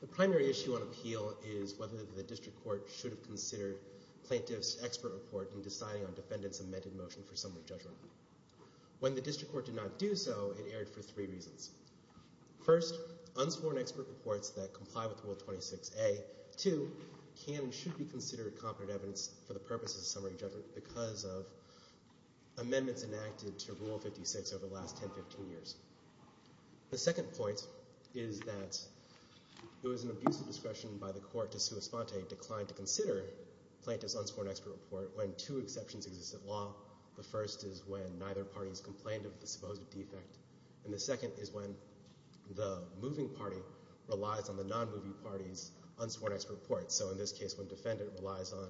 The primary issue on appeal is whether the District Court should have considered Plaintiff's expert report in deciding on Defendant's amended motion for summary judgment. When the District Court did not do so, it erred for three reasons. First, unsworn expert reports that comply with Rule 26a, 2, can and should be considered competent evidence for the purpose of summary judgment because of amendments enacted to Rule 56 over the last 10-15 years. The second point is that it was an abuse of discretion by the Court to sue Esponte declined to consider Plaintiff's unsworn expert report when two exceptions exist in law. The first is when neither party has complained of the supposed defect and the second is when the moving party relies on the non-moving party's unsworn expert report, so in this case when Defendant relies on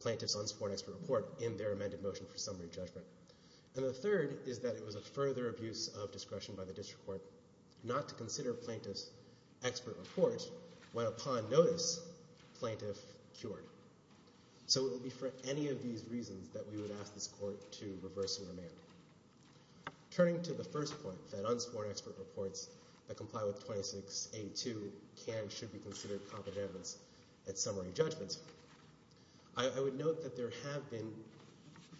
Plaintiff's unsworn expert report in their amended motion for summary judgment. And the third is that it was a further abuse of discretion by the District Court not to consider Plaintiff's expert report when, upon notice, Plaintiff cured. So it would be for any of these reasons that we would ask this Court to reverse the remand. Turning to the first point, that unsworn expert reports that comply with 26a, 2, can and should be considered competent evidence at summary judgment, I would note that there have been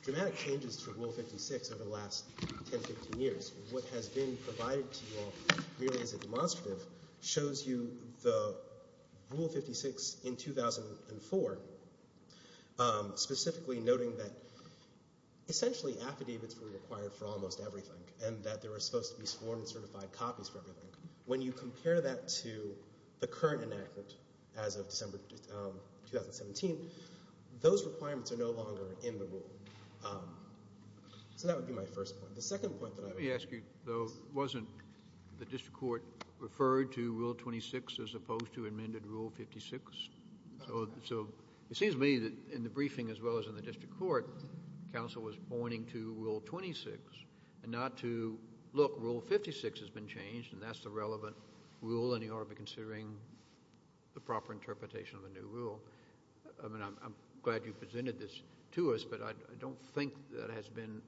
dramatic changes to Rule 56 over the last 10-15 years. What has been provided to you all merely as a demonstrative shows you the Rule 56 in 2004, specifically noting that essentially affidavits were required for almost everything and that there were supposed to be sworn and certified copies for everything. When you compare that to the current enactment as of December 2017, those requirements are no longer in the Rule. So that would be my first point. The second point that I would make... Let me ask you, though, wasn't the District Court referred to Rule 26 as opposed to amended Rule 56? So it seems to me that in the briefing as well as in the District Court, counsel was pointing to Rule 26 and not to, look, Rule 56 has been changed and that's the relevant rule and you ought to be considering the proper interpretation of the new rule. I mean, I'm glad you presented this to us, but I don't think that has been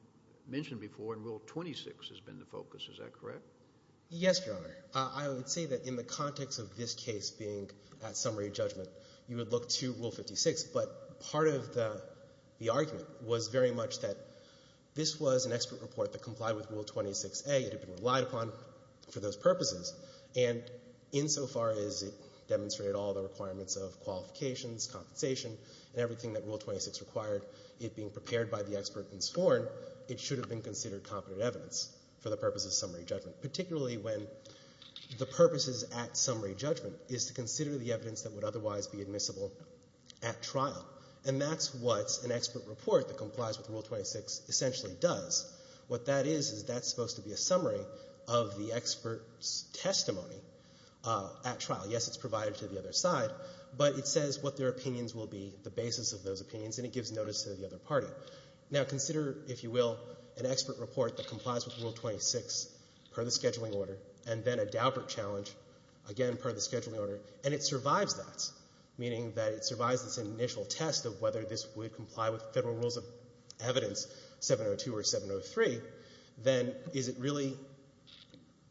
mentioned before and Rule 26 has been the focus. Is that correct? Yes, Your Honor. I would say that in the context of this case being at summary judgment, you would look to Rule 56, but part of the argument was very much that this was an expert report that complied with Rule 26a. It had been relied upon for those purposes and insofar as it demonstrated all the requirements of qualifications, compensation, and everything that Rule 26 required, it being prepared by the expert and sworn, it should have been considered competent evidence for the purpose of summary judgment, particularly when the purpose is at summary judgment, is to consider the evidence that would otherwise be admissible at trial. And that's what an expert report that complies with Rule 26 essentially does. What that is, is that's supposed to be a summary of the expert's testimony at trial. Yes, it's provided to the other side, but it says what their opinions will be, the basis of those opinions, and it gives notice to the other party. Now consider, if you will, an expert report that complies with Rule 26 per the scheduling order and then a Daubert challenge, again, per the scheduling order, and it survives that, meaning that it survives this initial test of whether this would comply with Federal Rules of Evidence 702 or 703, then is it really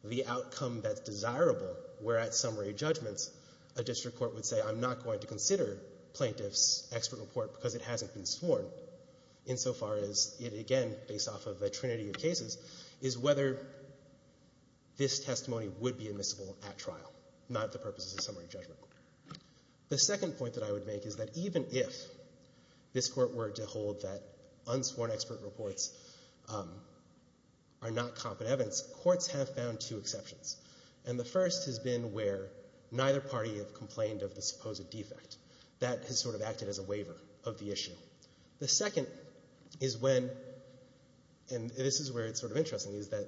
the outcome that's desirable where at summary judgments a district court would say, I'm not going to consider plaintiff's expert report because it hasn't been sworn, insofar as it, again, based off of the trinity of cases, is whether this testimony would be admissible at trial, not the purpose of summary judgment. The second point that I would make is that even if this Court were to hold that unsworn expert reports are not competent evidence, courts have found two exceptions. And the first has been where neither party have complained of the supposed defect. That has sort of acted as a waiver of the issue. The second is when, and this is where it's sort of interesting, is that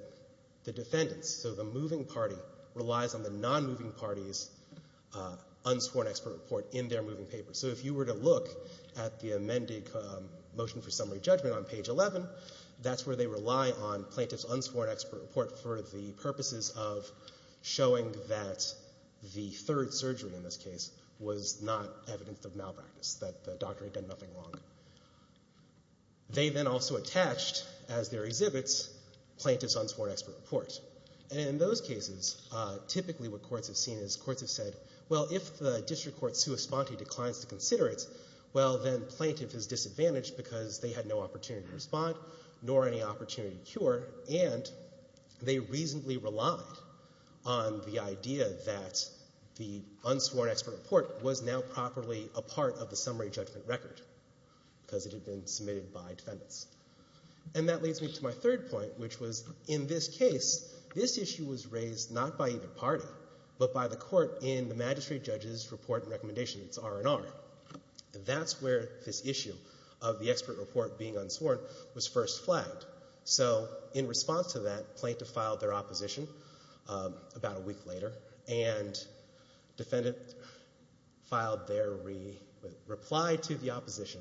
the defendants, so the moving party, relies on the non-moving party's unsworn expert report in their moving paper. So if you were to look at the amended motion for summary judgment on page 11, that's where they rely on plaintiff's unsworn expert report for the purposes of showing that the third surgery, in this case, was not evidence of malpractice, that the doctor had done nothing wrong. They then also attached, as their exhibits, plaintiff's unsworn expert report. And in those cases, typically what courts have seen is courts have said, well, if the district court sui sponte declines to consider it, well, then plaintiff is disadvantaged because they had no opportunity to respond, nor any opportunity to cure, and they reasonably relied on the idea that the unsworn expert report was now properly a part of the summary judgment record, because it had been submitted by defendants. And that leads me to my third point, which was, in this case, this issue was raised not by either party, but by the court in the magistrate judge's report and recommendation. It's R&R. That's where this issue of the expert report being unsworn was first flagged. So in response to that, plaintiff filed their opposition about a week later, and defendant filed their reply to the opposition.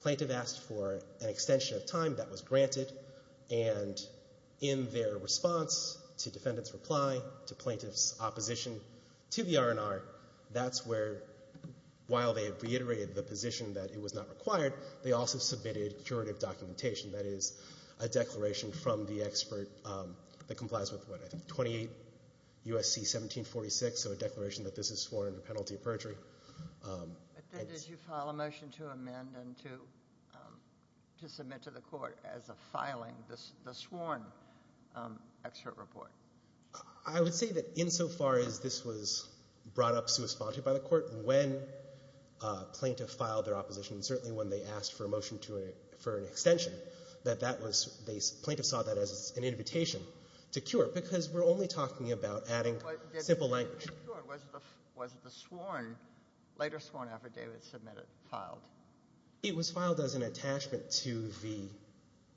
Plaintiff asked for an extension of time that was granted, and in their response to defendant's reply to plaintiff's opposition to the R&R, that's where, while they reiterated the position that it was not required, they also submitted curative documentation, that is, a declaration from the expert that complies with, what, I think, 28 U.S.C. 1746, so a declaration that this is sworn under penalty of perjury. But then did you file a motion to amend and to submit to the court as a filing the sworn expert report? I would say that insofar as this was brought up sui sponte by the court, when plaintiff filed their opposition, certainly when they asked for a motion to, for an extension, that that was, they, plaintiff saw that as an invitation to cure, because we're only talking about adding simple language. Was the sworn, later sworn after David submitted, filed? It was filed as an attachment to the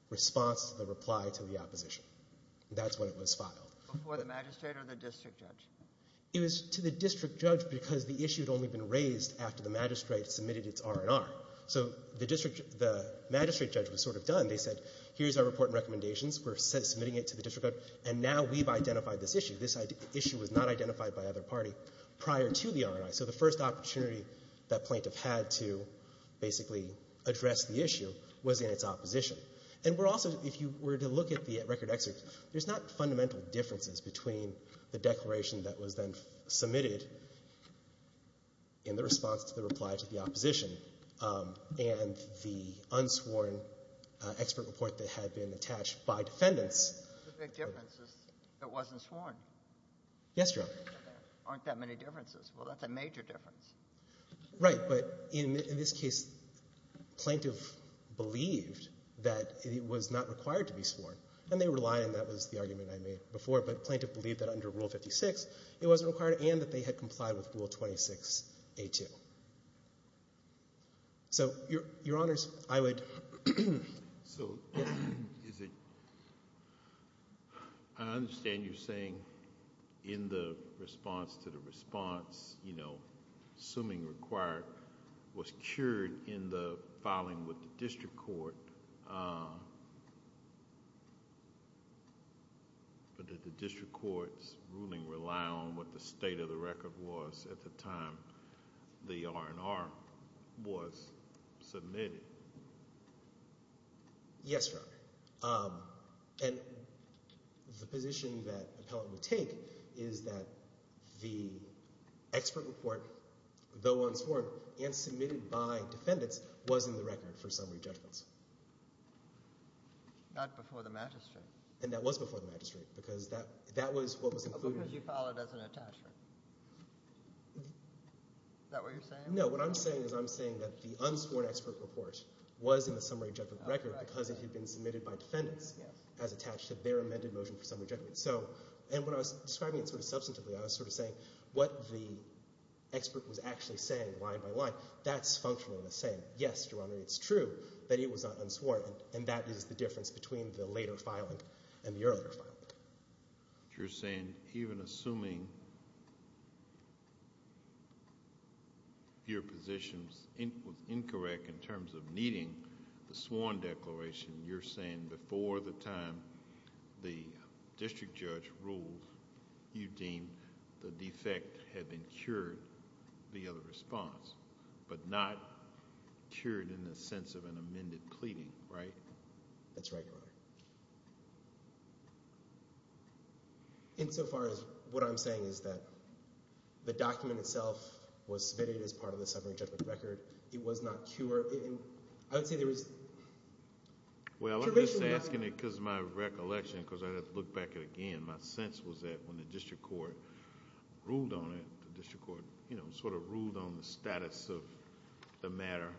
response, the reply to the opposition. That's when it was filed. Before the magistrate or the district judge? It was to the district judge because the issue had only been raised after the magistrate had submitted its R&R. So the district, the magistrate judge was sort of done. They said, here's our report and recommendations, we're submitting it to the district judge, and now we've identified this issue. This issue was not identified by either party prior to the R&I. So the first opportunity that plaintiff had to basically address the issue was in its opposition. And we're also, if you were to look at the record excerpt, there's not fundamental differences between the declaration that was then submitted in the response to the reply to the opposition and the unsworn excerpt report that had been attached by defendants. The big difference is it wasn't sworn. Yes, Your Honor. There aren't that many differences. Well, that's a major difference. Right. But in this case, plaintiff believed that it was not required to be sworn. And they were lying. That was the argument I made before. But plaintiff believed that under Rule 56, it wasn't required and that they had complied with Rule 26A2. So Your Honors, I would. So I understand you're saying in the response to the response, assuming required, was cured in the filing with the district court. But did the district court's ruling rely on what the state of the record was at the time the R&R was submitted? Yes, Your Honor. And the position that appellant would take is that the excerpt report, though unsworn, and submitted by defendants, was in the record for summary judgments. Not before the magistrate. And that was before the magistrate because that was what was included. Because you filed it as an attachment. Is that what you're saying? No. What I'm saying is I'm saying that the unsworn excerpt report was in the summary judgment record because it had been submitted by defendants as attached to their amended motion for summary judgment. And when I was describing it sort of substantively, I was sort of saying what the expert was actually saying line by line. That's functionally the same. Yes, Your Honor, it's true that it was unsworn. And that is the difference between the later filing and the earlier filing. You're saying even assuming your position was incorrect in terms of needing the sworn declaration, you're saying before the time the district judge ruled, you deemed the defect had been cured, the other response, but not cured in the sense of an amended pleading, right? That's right, Your Honor. And so far as what I'm saying is that the document itself was submitted as part of the summary judgment record. It was not cured. I would say there was... Well, I'm just asking it because of my recollection because I had to look back at it again. My sense was that when the district court ruled on it, the district court sort of ruled on the status of the matter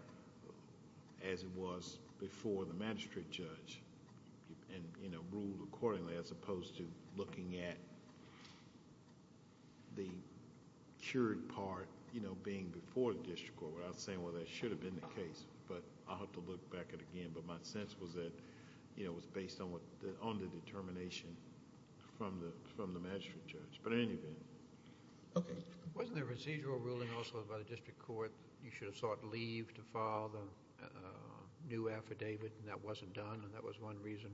as it was before the magistrate judge and ruled accordingly as opposed to looking at the cured part being before the district court. I was saying, well, that should have been the case, but I'll have to look back at it again. But my sense was that it was based on the determination from the magistrate judge. But in any event... Okay. Wasn't there a procedural ruling also by the district court that you should have sought leave to file the new affidavit and that wasn't done and that was one reason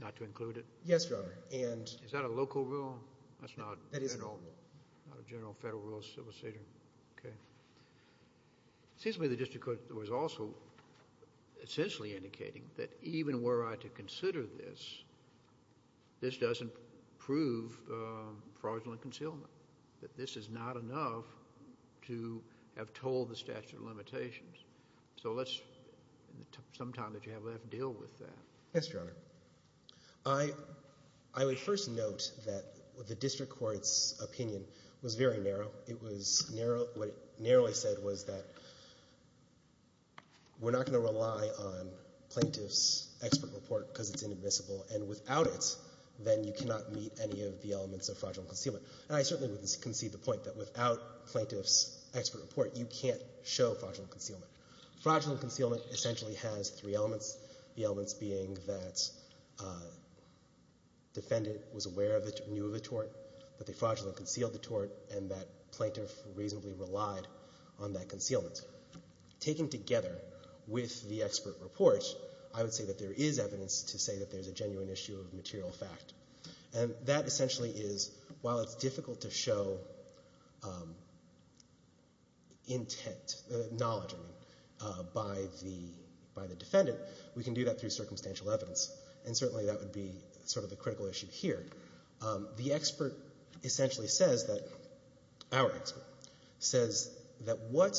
not to include it? Yes, Your Honor. And... Is that a local rule? That's not... That is a local rule. Not a general federal rule of civil seder. Okay. It seems to me the district court was also essentially indicating that even were I to consider this, this doesn't prove fraudulent concealment. That this is not enough to have told the statute of limitations. So let's... Sometime that you have to deal with that. Yes, Your Honor. I would first note that the district court's opinion was very narrow. It was narrow... What it narrowly said was that we're not going to rely on plaintiff's expert report because it's inadmissible and without it, then you cannot meet any of the elements of fraudulent concealment. And I certainly would concede the point that without plaintiff's expert report, you can't show fraudulent concealment. Fraudulent concealment essentially has three elements, the elements being that defendant was aware of the... Knew of the tort, that they fraudulently concealed the tort, and that plaintiff reasonably relied on that concealment. Taken together with the expert report, I would say that there is evidence to say that there's a genuine issue of material fact. And that essentially is, while it's difficult to show intent... Knowledge, I mean, by the defendant, we can do that through circumstantial evidence. And certainly that would be sort of the critical issue here. The expert essentially says that... Our expert says that what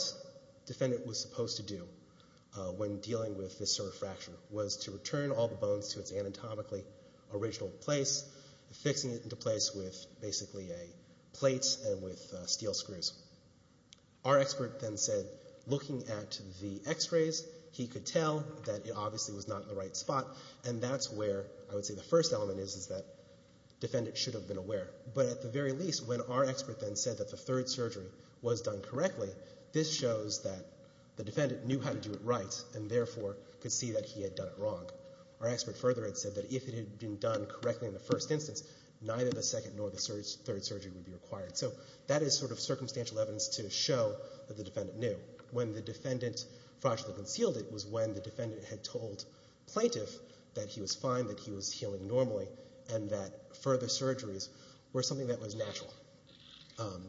defendant was supposed to do when dealing with this sort of fracture was to return all the bones to its anatomically original place, fixing it into place with basically a plate and with steel screws. Our expert then said, looking at the x-rays, he could tell that it obviously was not in the right spot. And that's where I would say the first element is, is that defendant should have been aware. But at the very least, when our expert then said that the third surgery was done correctly, this shows that the defendant knew how to do it right and therefore could see that he had done it wrong. Our expert further had said that if it had been done correctly in the first instance, neither the second nor the third surgery would be required. So that is sort of circumstantial evidence to show that the defendant knew. And when the defendant fracturally concealed it was when the defendant had told plaintiff that he was fine, that he was healing normally, and that further surgeries were something that was natural,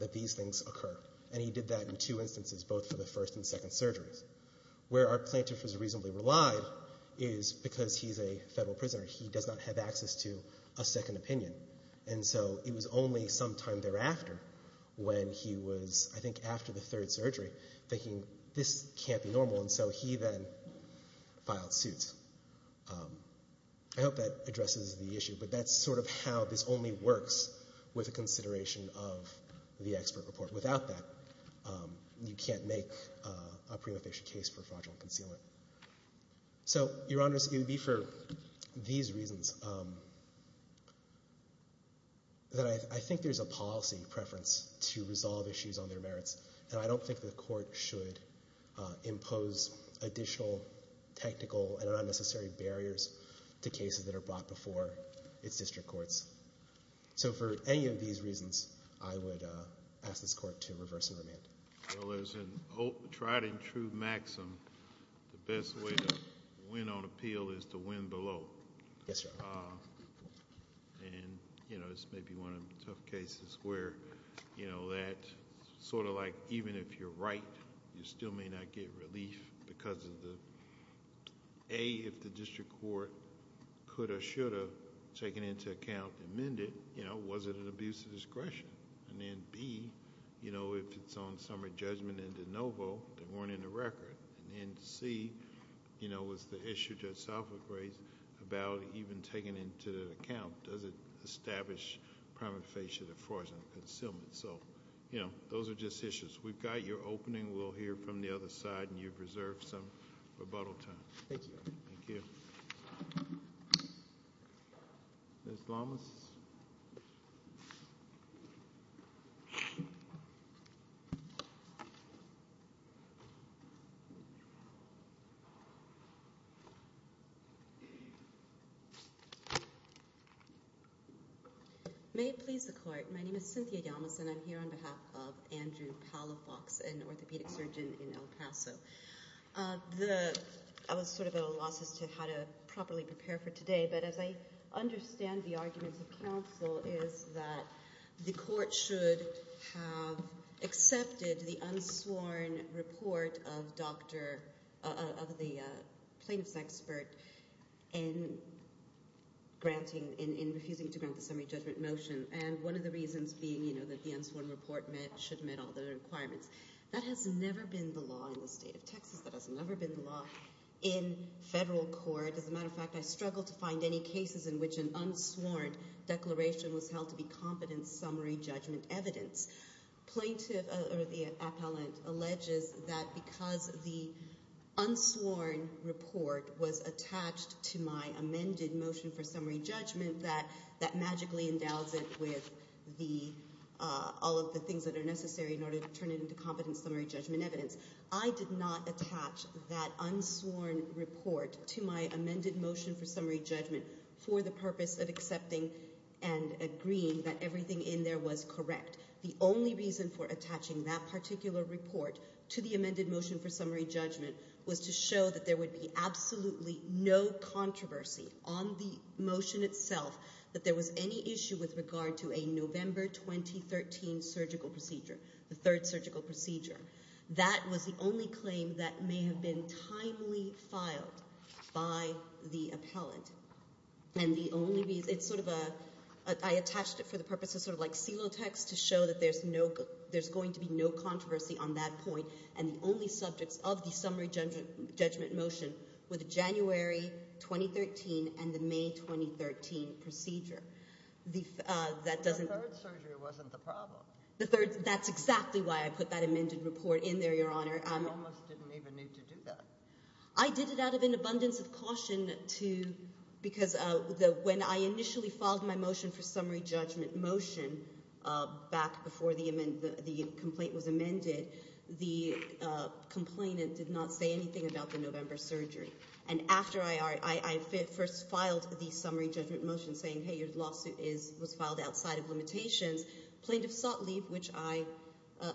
that these things occur. And he did that in two instances, both for the first and second surgeries. Where our plaintiff is reasonably relied is because he's a federal prisoner. He does not have access to a second opinion. And so it was only sometime thereafter when he was, I think, after the third surgery, thinking this can't be normal. And so he then filed suit. I hope that addresses the issue. But that's sort of how this only works with a consideration of the expert report. Without that, you can't make a prima facie case for fraudulent concealment. So, Your Honor, it would be for these reasons that I think there's a policy preference to resolve issues on their merits. And I don't think the court should impose additional technical and unnecessary barriers to cases that are brought before its district courts. So for any of these reasons, I would ask this court to reverse and remand. Well, there's an old, tried and true maxim. The best way to win on appeal is to win below. Yes, sir. And, you know, this may be one of the tough cases where, you know, that sort of like even if you're right, you still may not get relief because of the, A, if the district court could or should have taken into account and amended, you know, was it an abuse of discretion? And then, B, you know, if it's on summary judgment and de novo, they weren't in the record. And then, C, you know, was the issue Judge Salford raised about even taking into account, does it establish prima facie defraudulent concealment? So, you know, those are just issues. We've got your opening. We'll hear from the other side, and you've reserved some rebuttal time. Thank you, Your Honor. Thank you. Ms. Lamas? May it please the Court. My name is Cynthia Lamas, and I'm here on behalf of Andrew Palafox, an orthopedic surgeon in El Paso. I was sort of at a loss as to how to properly prepare for today, but as I understand the arguments of counsel, is that the Court should have accepted the unsworn report of the plaintiff's expert in refusing to grant the summary judgment motion, and one of the reasons being, you know, that the unsworn report should meet all the requirements. That has never been the law in the state of Texas. That has never been the law in federal court. As a matter of fact, I struggled to find any cases in which an unsworn declaration was held to be competent summary judgment evidence. Plaintiff or the appellant alleges that because the unsworn report was attached to my amended motion for summary judgment, that magically endows it with all of the things that are necessary in order to turn it into competent summary judgment evidence. I did not attach that unsworn report to my amended motion for summary judgment for the purpose of accepting and agreeing that everything in there was correct. The only reason for attaching that particular report to the amended motion for summary judgment was to show that there would be absolutely no controversy on the motion itself that there was any issue with regard to a November 2013 surgical procedure, the third surgical procedure. That was the only claim that may have been timely filed by the appellant. And the only reason, it's sort of a, I attached it for the purpose of sort of like seal text to show that there's no, there's going to be no controversy on that point and the only subjects of the summary judgment motion were the January 2013 and the May 2013 procedure. The, that doesn't... The third surgery wasn't the problem. The third, that's exactly why I put that amended report in there, Your Honor. You almost didn't even need to do that. I did it out of an abundance of caution to, because when I initially filed my motion for summary judgment motion back before the amendment, the complaint was amended, the complainant did not say anything about the November surgery. And after I first filed the summary judgment motion saying, hey, your lawsuit is, was filed outside of limitations, plaintiffs sought leave, which I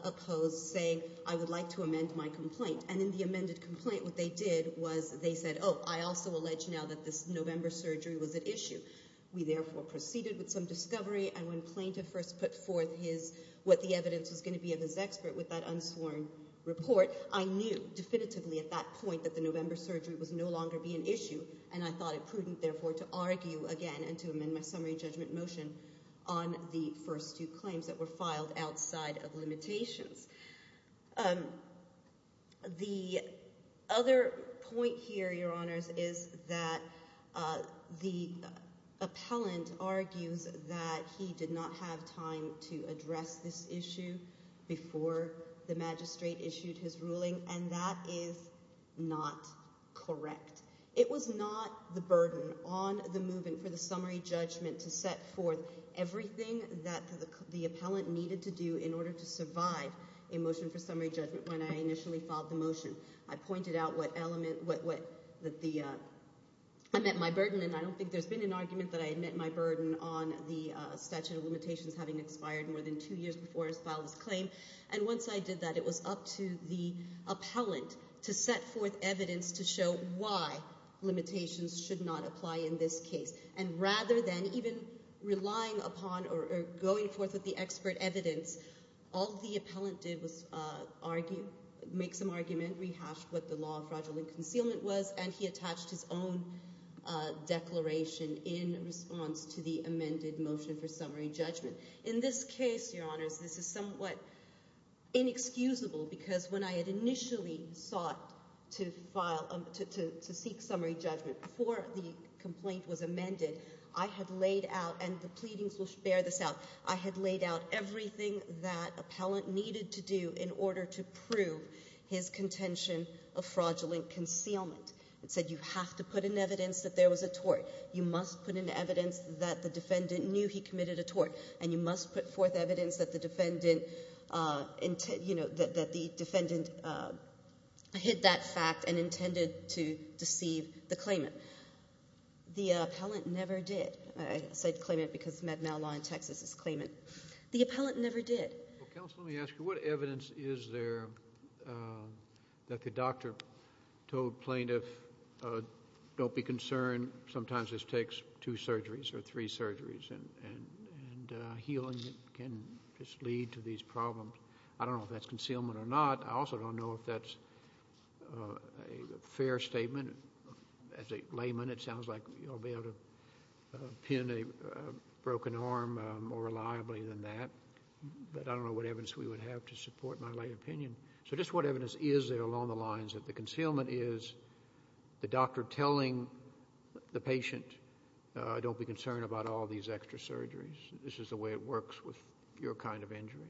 opposed, saying I would like to amend my complaint. And in the amended complaint, what they did was they said, oh, I also allege now that this November surgery was at issue. We therefore proceeded with some discovery and when plaintiff first put forth his, what the evidence was going to be of his expert with that unsworn report, I knew definitively at that point that the November surgery was no longer be an issue. And I thought it prudent therefore to argue again and to amend my summary judgment motion on the first two claims that were filed outside of limitations. The other point here, Your Honors, is that the appellant argues that he did not have time to address this issue before the magistrate issued his ruling. And that is not correct. It was not the burden on the movement for the summary judgment to set forth everything that the appellant needed to do in order to survive a motion for summary judgment when I initially filed the motion. I pointed out what element, what, what, that the, I met my burden and I don't think there's been an argument that I had met my burden on the statute of limitations having expired more than two years before I filed this claim. And once I did that, it was up to the appellant to set forth evidence to show why limitations should not apply in this case. And rather than even relying upon or going forth with the expert evidence, all the appellant did was argue, make some argument, rehash what the law of fraudulent concealment was, and he attached his own declaration in response to the amended motion for summary judgment. In this case, Your Honors, this is somewhat inexcusable because when I had initially sought to file, to seek summary judgment before the complaint was amended, I had laid out, and the pleadings will bear this out, I had laid out everything that appellant needed to do in order to prove his contention of fraudulent concealment. It said you have to put in evidence that there was a tort. You must put in evidence that the defendant knew he committed a tort. And you must put forth evidence that the defendant, you know, that the defendant hid that fact and intended to deceive the claimant. The appellant never did. I said claimant because Med-Mal Law in Texas is claimant. The appellant never did. Counsel, let me ask you, what evidence is there that the doctor told plaintiff, don't be concerned, sometimes this takes two surgeries or three surgeries, and healing can just lead to these problems? I don't know if that's concealment or not. I also don't know if that's a fair statement. As a layman, it sounds like you'll be able to pin a broken arm more reliably than that. But I don't know what evidence we would have to support my lay opinion. So just what evidence is there along the lines that the concealment is the doctor telling the patient, don't be concerned about all these extra surgeries? This is the way it works with your kind of injury?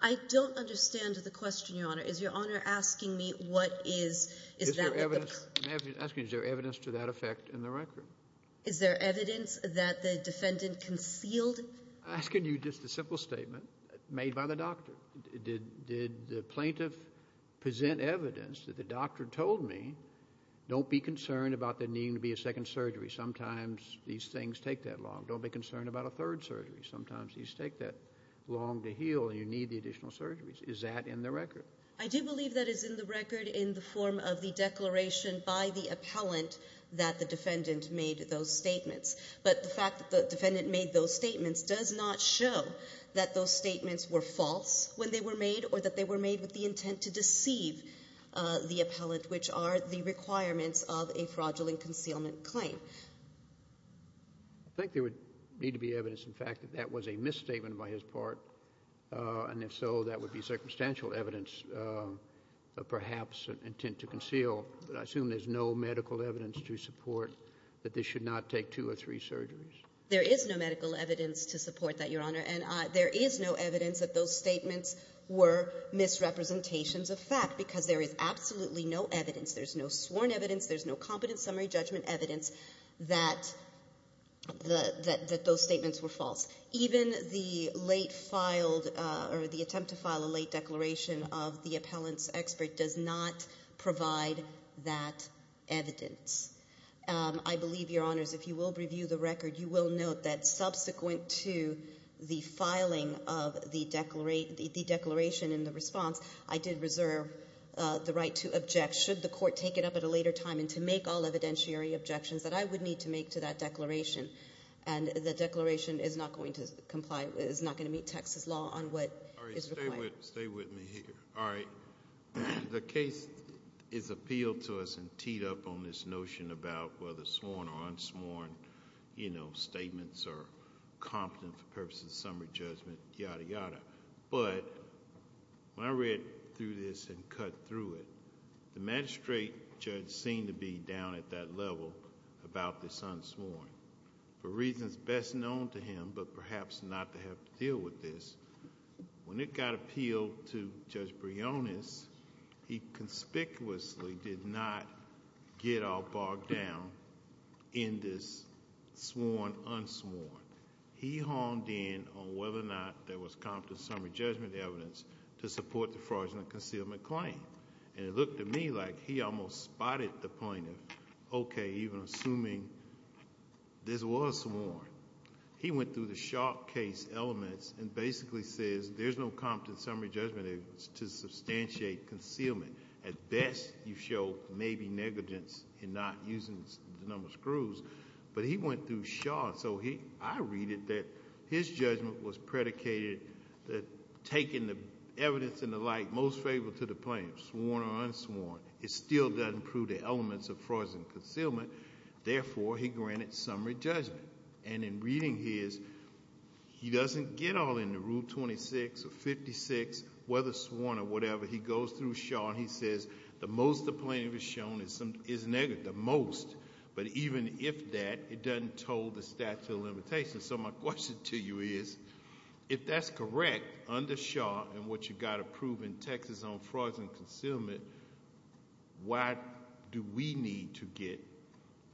I don't understand the question, Your Honor. Is Your Honor asking me what is... Is there evidence to that effect in the record? Is there evidence that the defendant concealed? I'm asking you just a simple statement made by the doctor. Did the plaintiff present evidence that the doctor told me, don't be concerned about there needing to be a second surgery? Sometimes these things take that long. Don't be concerned about a third surgery. Sometimes these take that long to heal and you need the additional surgeries. Is that in the record? I do believe that is in the record in the form of the declaration by the appellant that the defendant made those statements. But the fact that the defendant made those statements does not show that those statements were false when they were made or that they were made with the intent to deceive the appellant, which are the requirements of a fraudulent concealment claim. I think there would need to be evidence, in fact, that that was a misstatement by his part. And if so, that would be circumstantial evidence of perhaps an intent to conceal. But I assume there's no medical evidence to support that this should not take two or three surgeries. There is no medical evidence to support that, Your Honor. And there is no evidence that those statements were misrepresentations of fact because there is absolutely no evidence, there's no sworn evidence, there's no competent summary judgment evidence that those statements were false. Even the attempt to file a late declaration of the appellant's expert does not provide that evidence. I believe, Your Honors, if you will review the record, you will note that subsequent to the filing of the declaration and the response, I did reserve the right to object should the court take it up at a later time and to make all evidentiary objections that I would need to make to that declaration. And the declaration is not going to comply, is not going to meet Texas law on what is required. All right, stay with me here. All right. The case is appealed to us and teed up on this notion about whether sworn or unsworn, you know, statements are competent for purposes of summary judgment, yada yada. But when I read through this and cut through it, the magistrate judge seemed to be down at that level about this unsworn. For reasons best known to him, but perhaps not to have to deal with this, when it got appealed to Judge Briones, he conspicuously did not get all bogged down in this sworn, unsworn. He honed in on whether or not there was competent summary judgment evidence to support the fraudulent concealment claim. And it looked to me like he almost spotted the point of, okay, even assuming this was sworn. He went through the sharp case elements and basically says there's no competent summary judgment to substantiate concealment. At best, you show maybe negligence in not using the number of screws. But he went through sharp. So I read it that his judgment was predicated that taking the evidence and the like most favorable to the plaintiff, sworn or unsworn, it still doesn't prove the elements of fraudulent concealment. Therefore, he granted summary judgment. And in reading his, he doesn't get all into Rule 26 or 56, whether sworn or whatever. He goes through sharp. He says the most the plaintiff has shown is negative, the most. But even if that, it doesn't toll the statute of limitations. So my question to you is, if that's correct under sharp and what you got to prove in Texas on fraudulent concealment, why do we need to get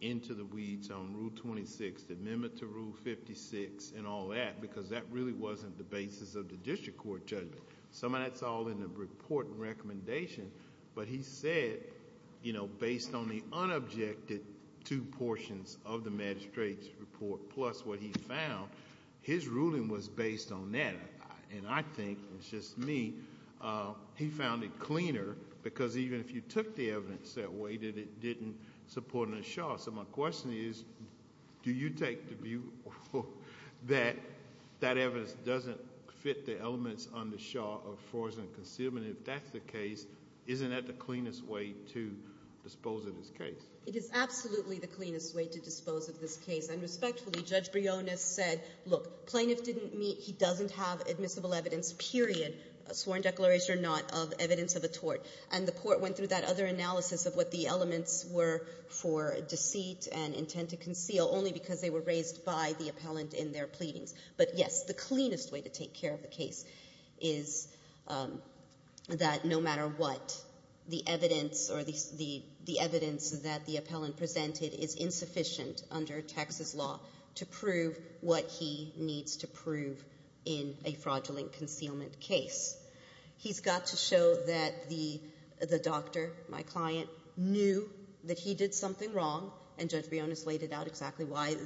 into the weeds on Rule 26, the amendment to Rule 56 and all that? Because that really wasn't the basis of the district court judgment. Some of that's all in the report and recommendation. But he said, you know, based on the unobjected two portions of the magistrate's report, plus what he found, his ruling was based on that. And I think, it's just me, he found it cleaner because even if you took the evidence that way, that it didn't support in a sharp. So my question is, do you take the view that that evidence doesn't fit the elements on the sharp of fraudulent concealment? If that's the case, isn't that the cleanest way to dispose of this case? It is absolutely the cleanest way to dispose of this case. And respectfully, Judge Briones said, look, plaintiff didn't meet, he doesn't have admissible evidence, period, sworn declaration or not of evidence of a tort. And the court went through that other analysis of what the elements were for deceit and intent to conceal only because they were raised by the appellant in their pleadings. But yes, the cleanest way to take care of the case is that no matter what, the evidence or the evidence that the appellant presented is insufficient under Texas law to prove what he needs to prove in a fraudulent concealment case. He's got to show that the doctor, my client, knew that he did something wrong, and Judge Briones laid it out exactly why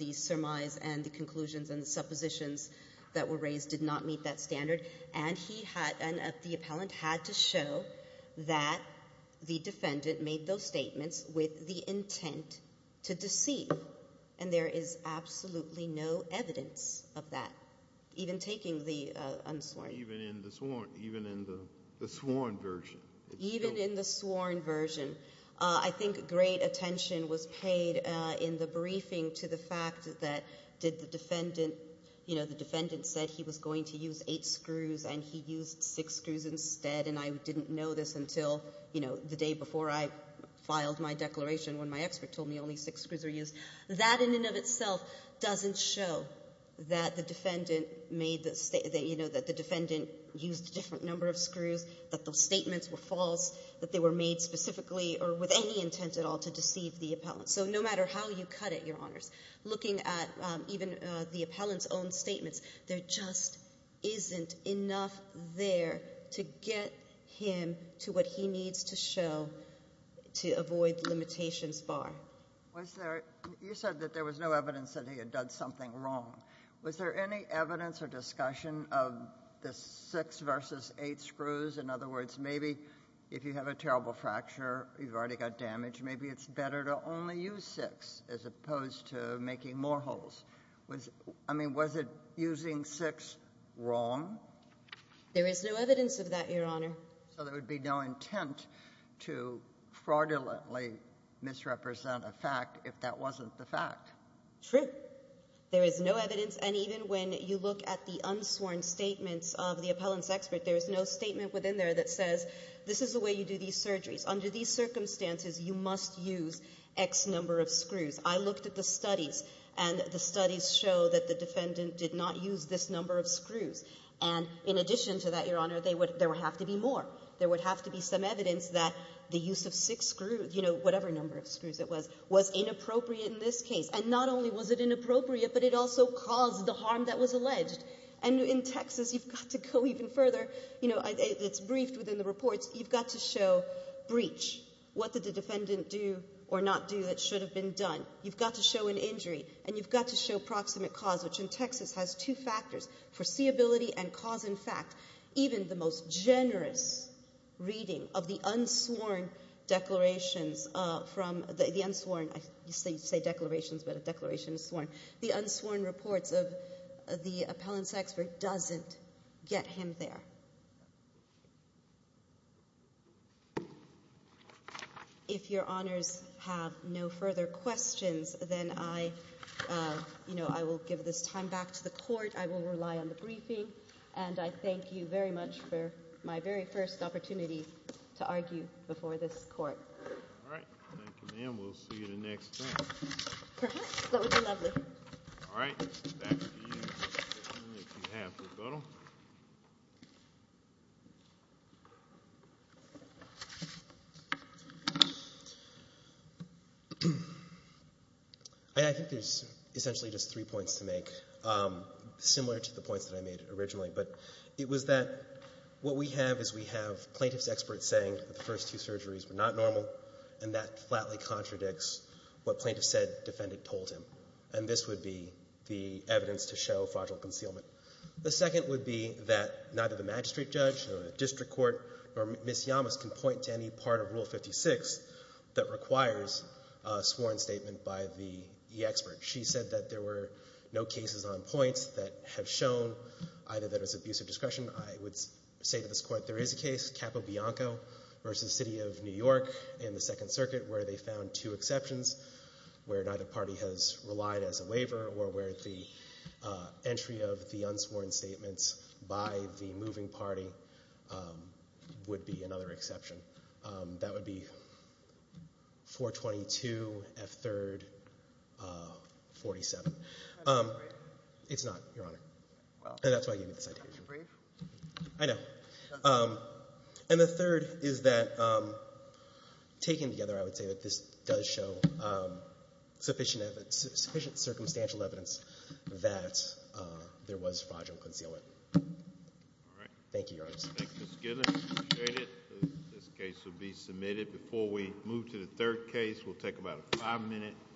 the surmise and the conclusions and the suppositions that were raised did not meet that standard. And he had, and the appellant had to show that the defendant made those statements with the intent to deceive. And there is absolutely no evidence of that, even taking the unsworn. Even in the sworn, even in the sworn version. Even in the sworn version. I think great attention was paid in the briefing to the fact that did the defendant, you know, the defendant said he was going to use eight screws and he used six screws instead and I didn't know this until, you know, the day before I filed my declaration when my expert told me only six screws were used. That in and of itself doesn't show that the defendant made, you know, that the defendant used a different number of screws, that those statements were false, that they were made specifically or with any intent at all to deceive the appellant. So no matter how you cut it, Your Honors, looking at even the appellant's own statements, there just isn't enough there to get him to what he needs to show to avoid limitations far. Was there, you said that there was no evidence that he had done something wrong. Was there any evidence or discussion of the six versus eight screws? In other words, maybe if you have a terrible fracture, you've already got damage, maybe it's better to only use six as opposed to making more holes. Was, I mean, was it using six wrong? There is no evidence of that, Your Honor. So there would be no intent to fraudulently misrepresent a fact if that wasn't the fact? True. There is no evidence and even when you look at the unsworn statements of the appellant's expert, there is no statement within there that says, this is the way you do these surgeries. Under these circumstances, you must use X number of screws. I looked at the studies and the studies show that the defendant did not use this number of screws. And in addition to that, Your Honor, there would have to be more. There would have to be some evidence that the use of six screws, you know, whatever number of screws it was, was inappropriate in this case. And not only was it inappropriate, but it also caused the harm that was alleged. And in Texas, you've got to go even further, you know, it's briefed within the reports, you've got to show breach, what did the defendant do or not do that should have been done. You've got to show an injury and you've got to show proximate cause, which in Texas has two factors, foreseeability and cause and fact. Even the most generous reading of the unsworn declarations from, the unsworn, you say declarations but a declaration is sworn, the unsworn reports of the appellant's expert doesn't get him there. If your honors have no further questions, then I, you know, I will give this time back to the court, I will rely on the briefing and I thank you very much for my very first opportunity to argue before this court. All right, we'll see you the next time. Perhaps, that would be lovely. All right, back to you on behalf of Bettle. Thank you. Thank you. Thank you. Thank you. Thank you. Thank you. Thank you. I think there's essentially just three points to make, similar to the points that I made originally, but it was that what we have is we have plaintiff's expert saying that the first two surgeries were not normal and that flatly contradicts what plaintiff said defendant told him and this would be the evidence to show fraudulent concealment. The second would be that neither the magistrate judge or the district court or Ms. Yamas can point to any part of rule 56 that requires a sworn statement by the expert. She said that there were no cases on points that have shown either that it was abusive discretion. I would say to this court there is a case Capo Bianco versus City of New York and the Second Circuit where they found two exceptions where neither party has relied as a waiver or where the entry of the unsworn statements by the moving party would be another exception. That would be 422 F3rd 47. It's not, Your Honor. And that's why I gave you the citation. I know. And the third is that taken together I would say that this does show sufficient circumstantial evidence that there was fraudulent concealment. Thank you, Your Honor. Thank you, Ms. Goodman. I appreciate it. This case will be submitted. Before we adjourned until 11 o'clock this afternoon. Thank you.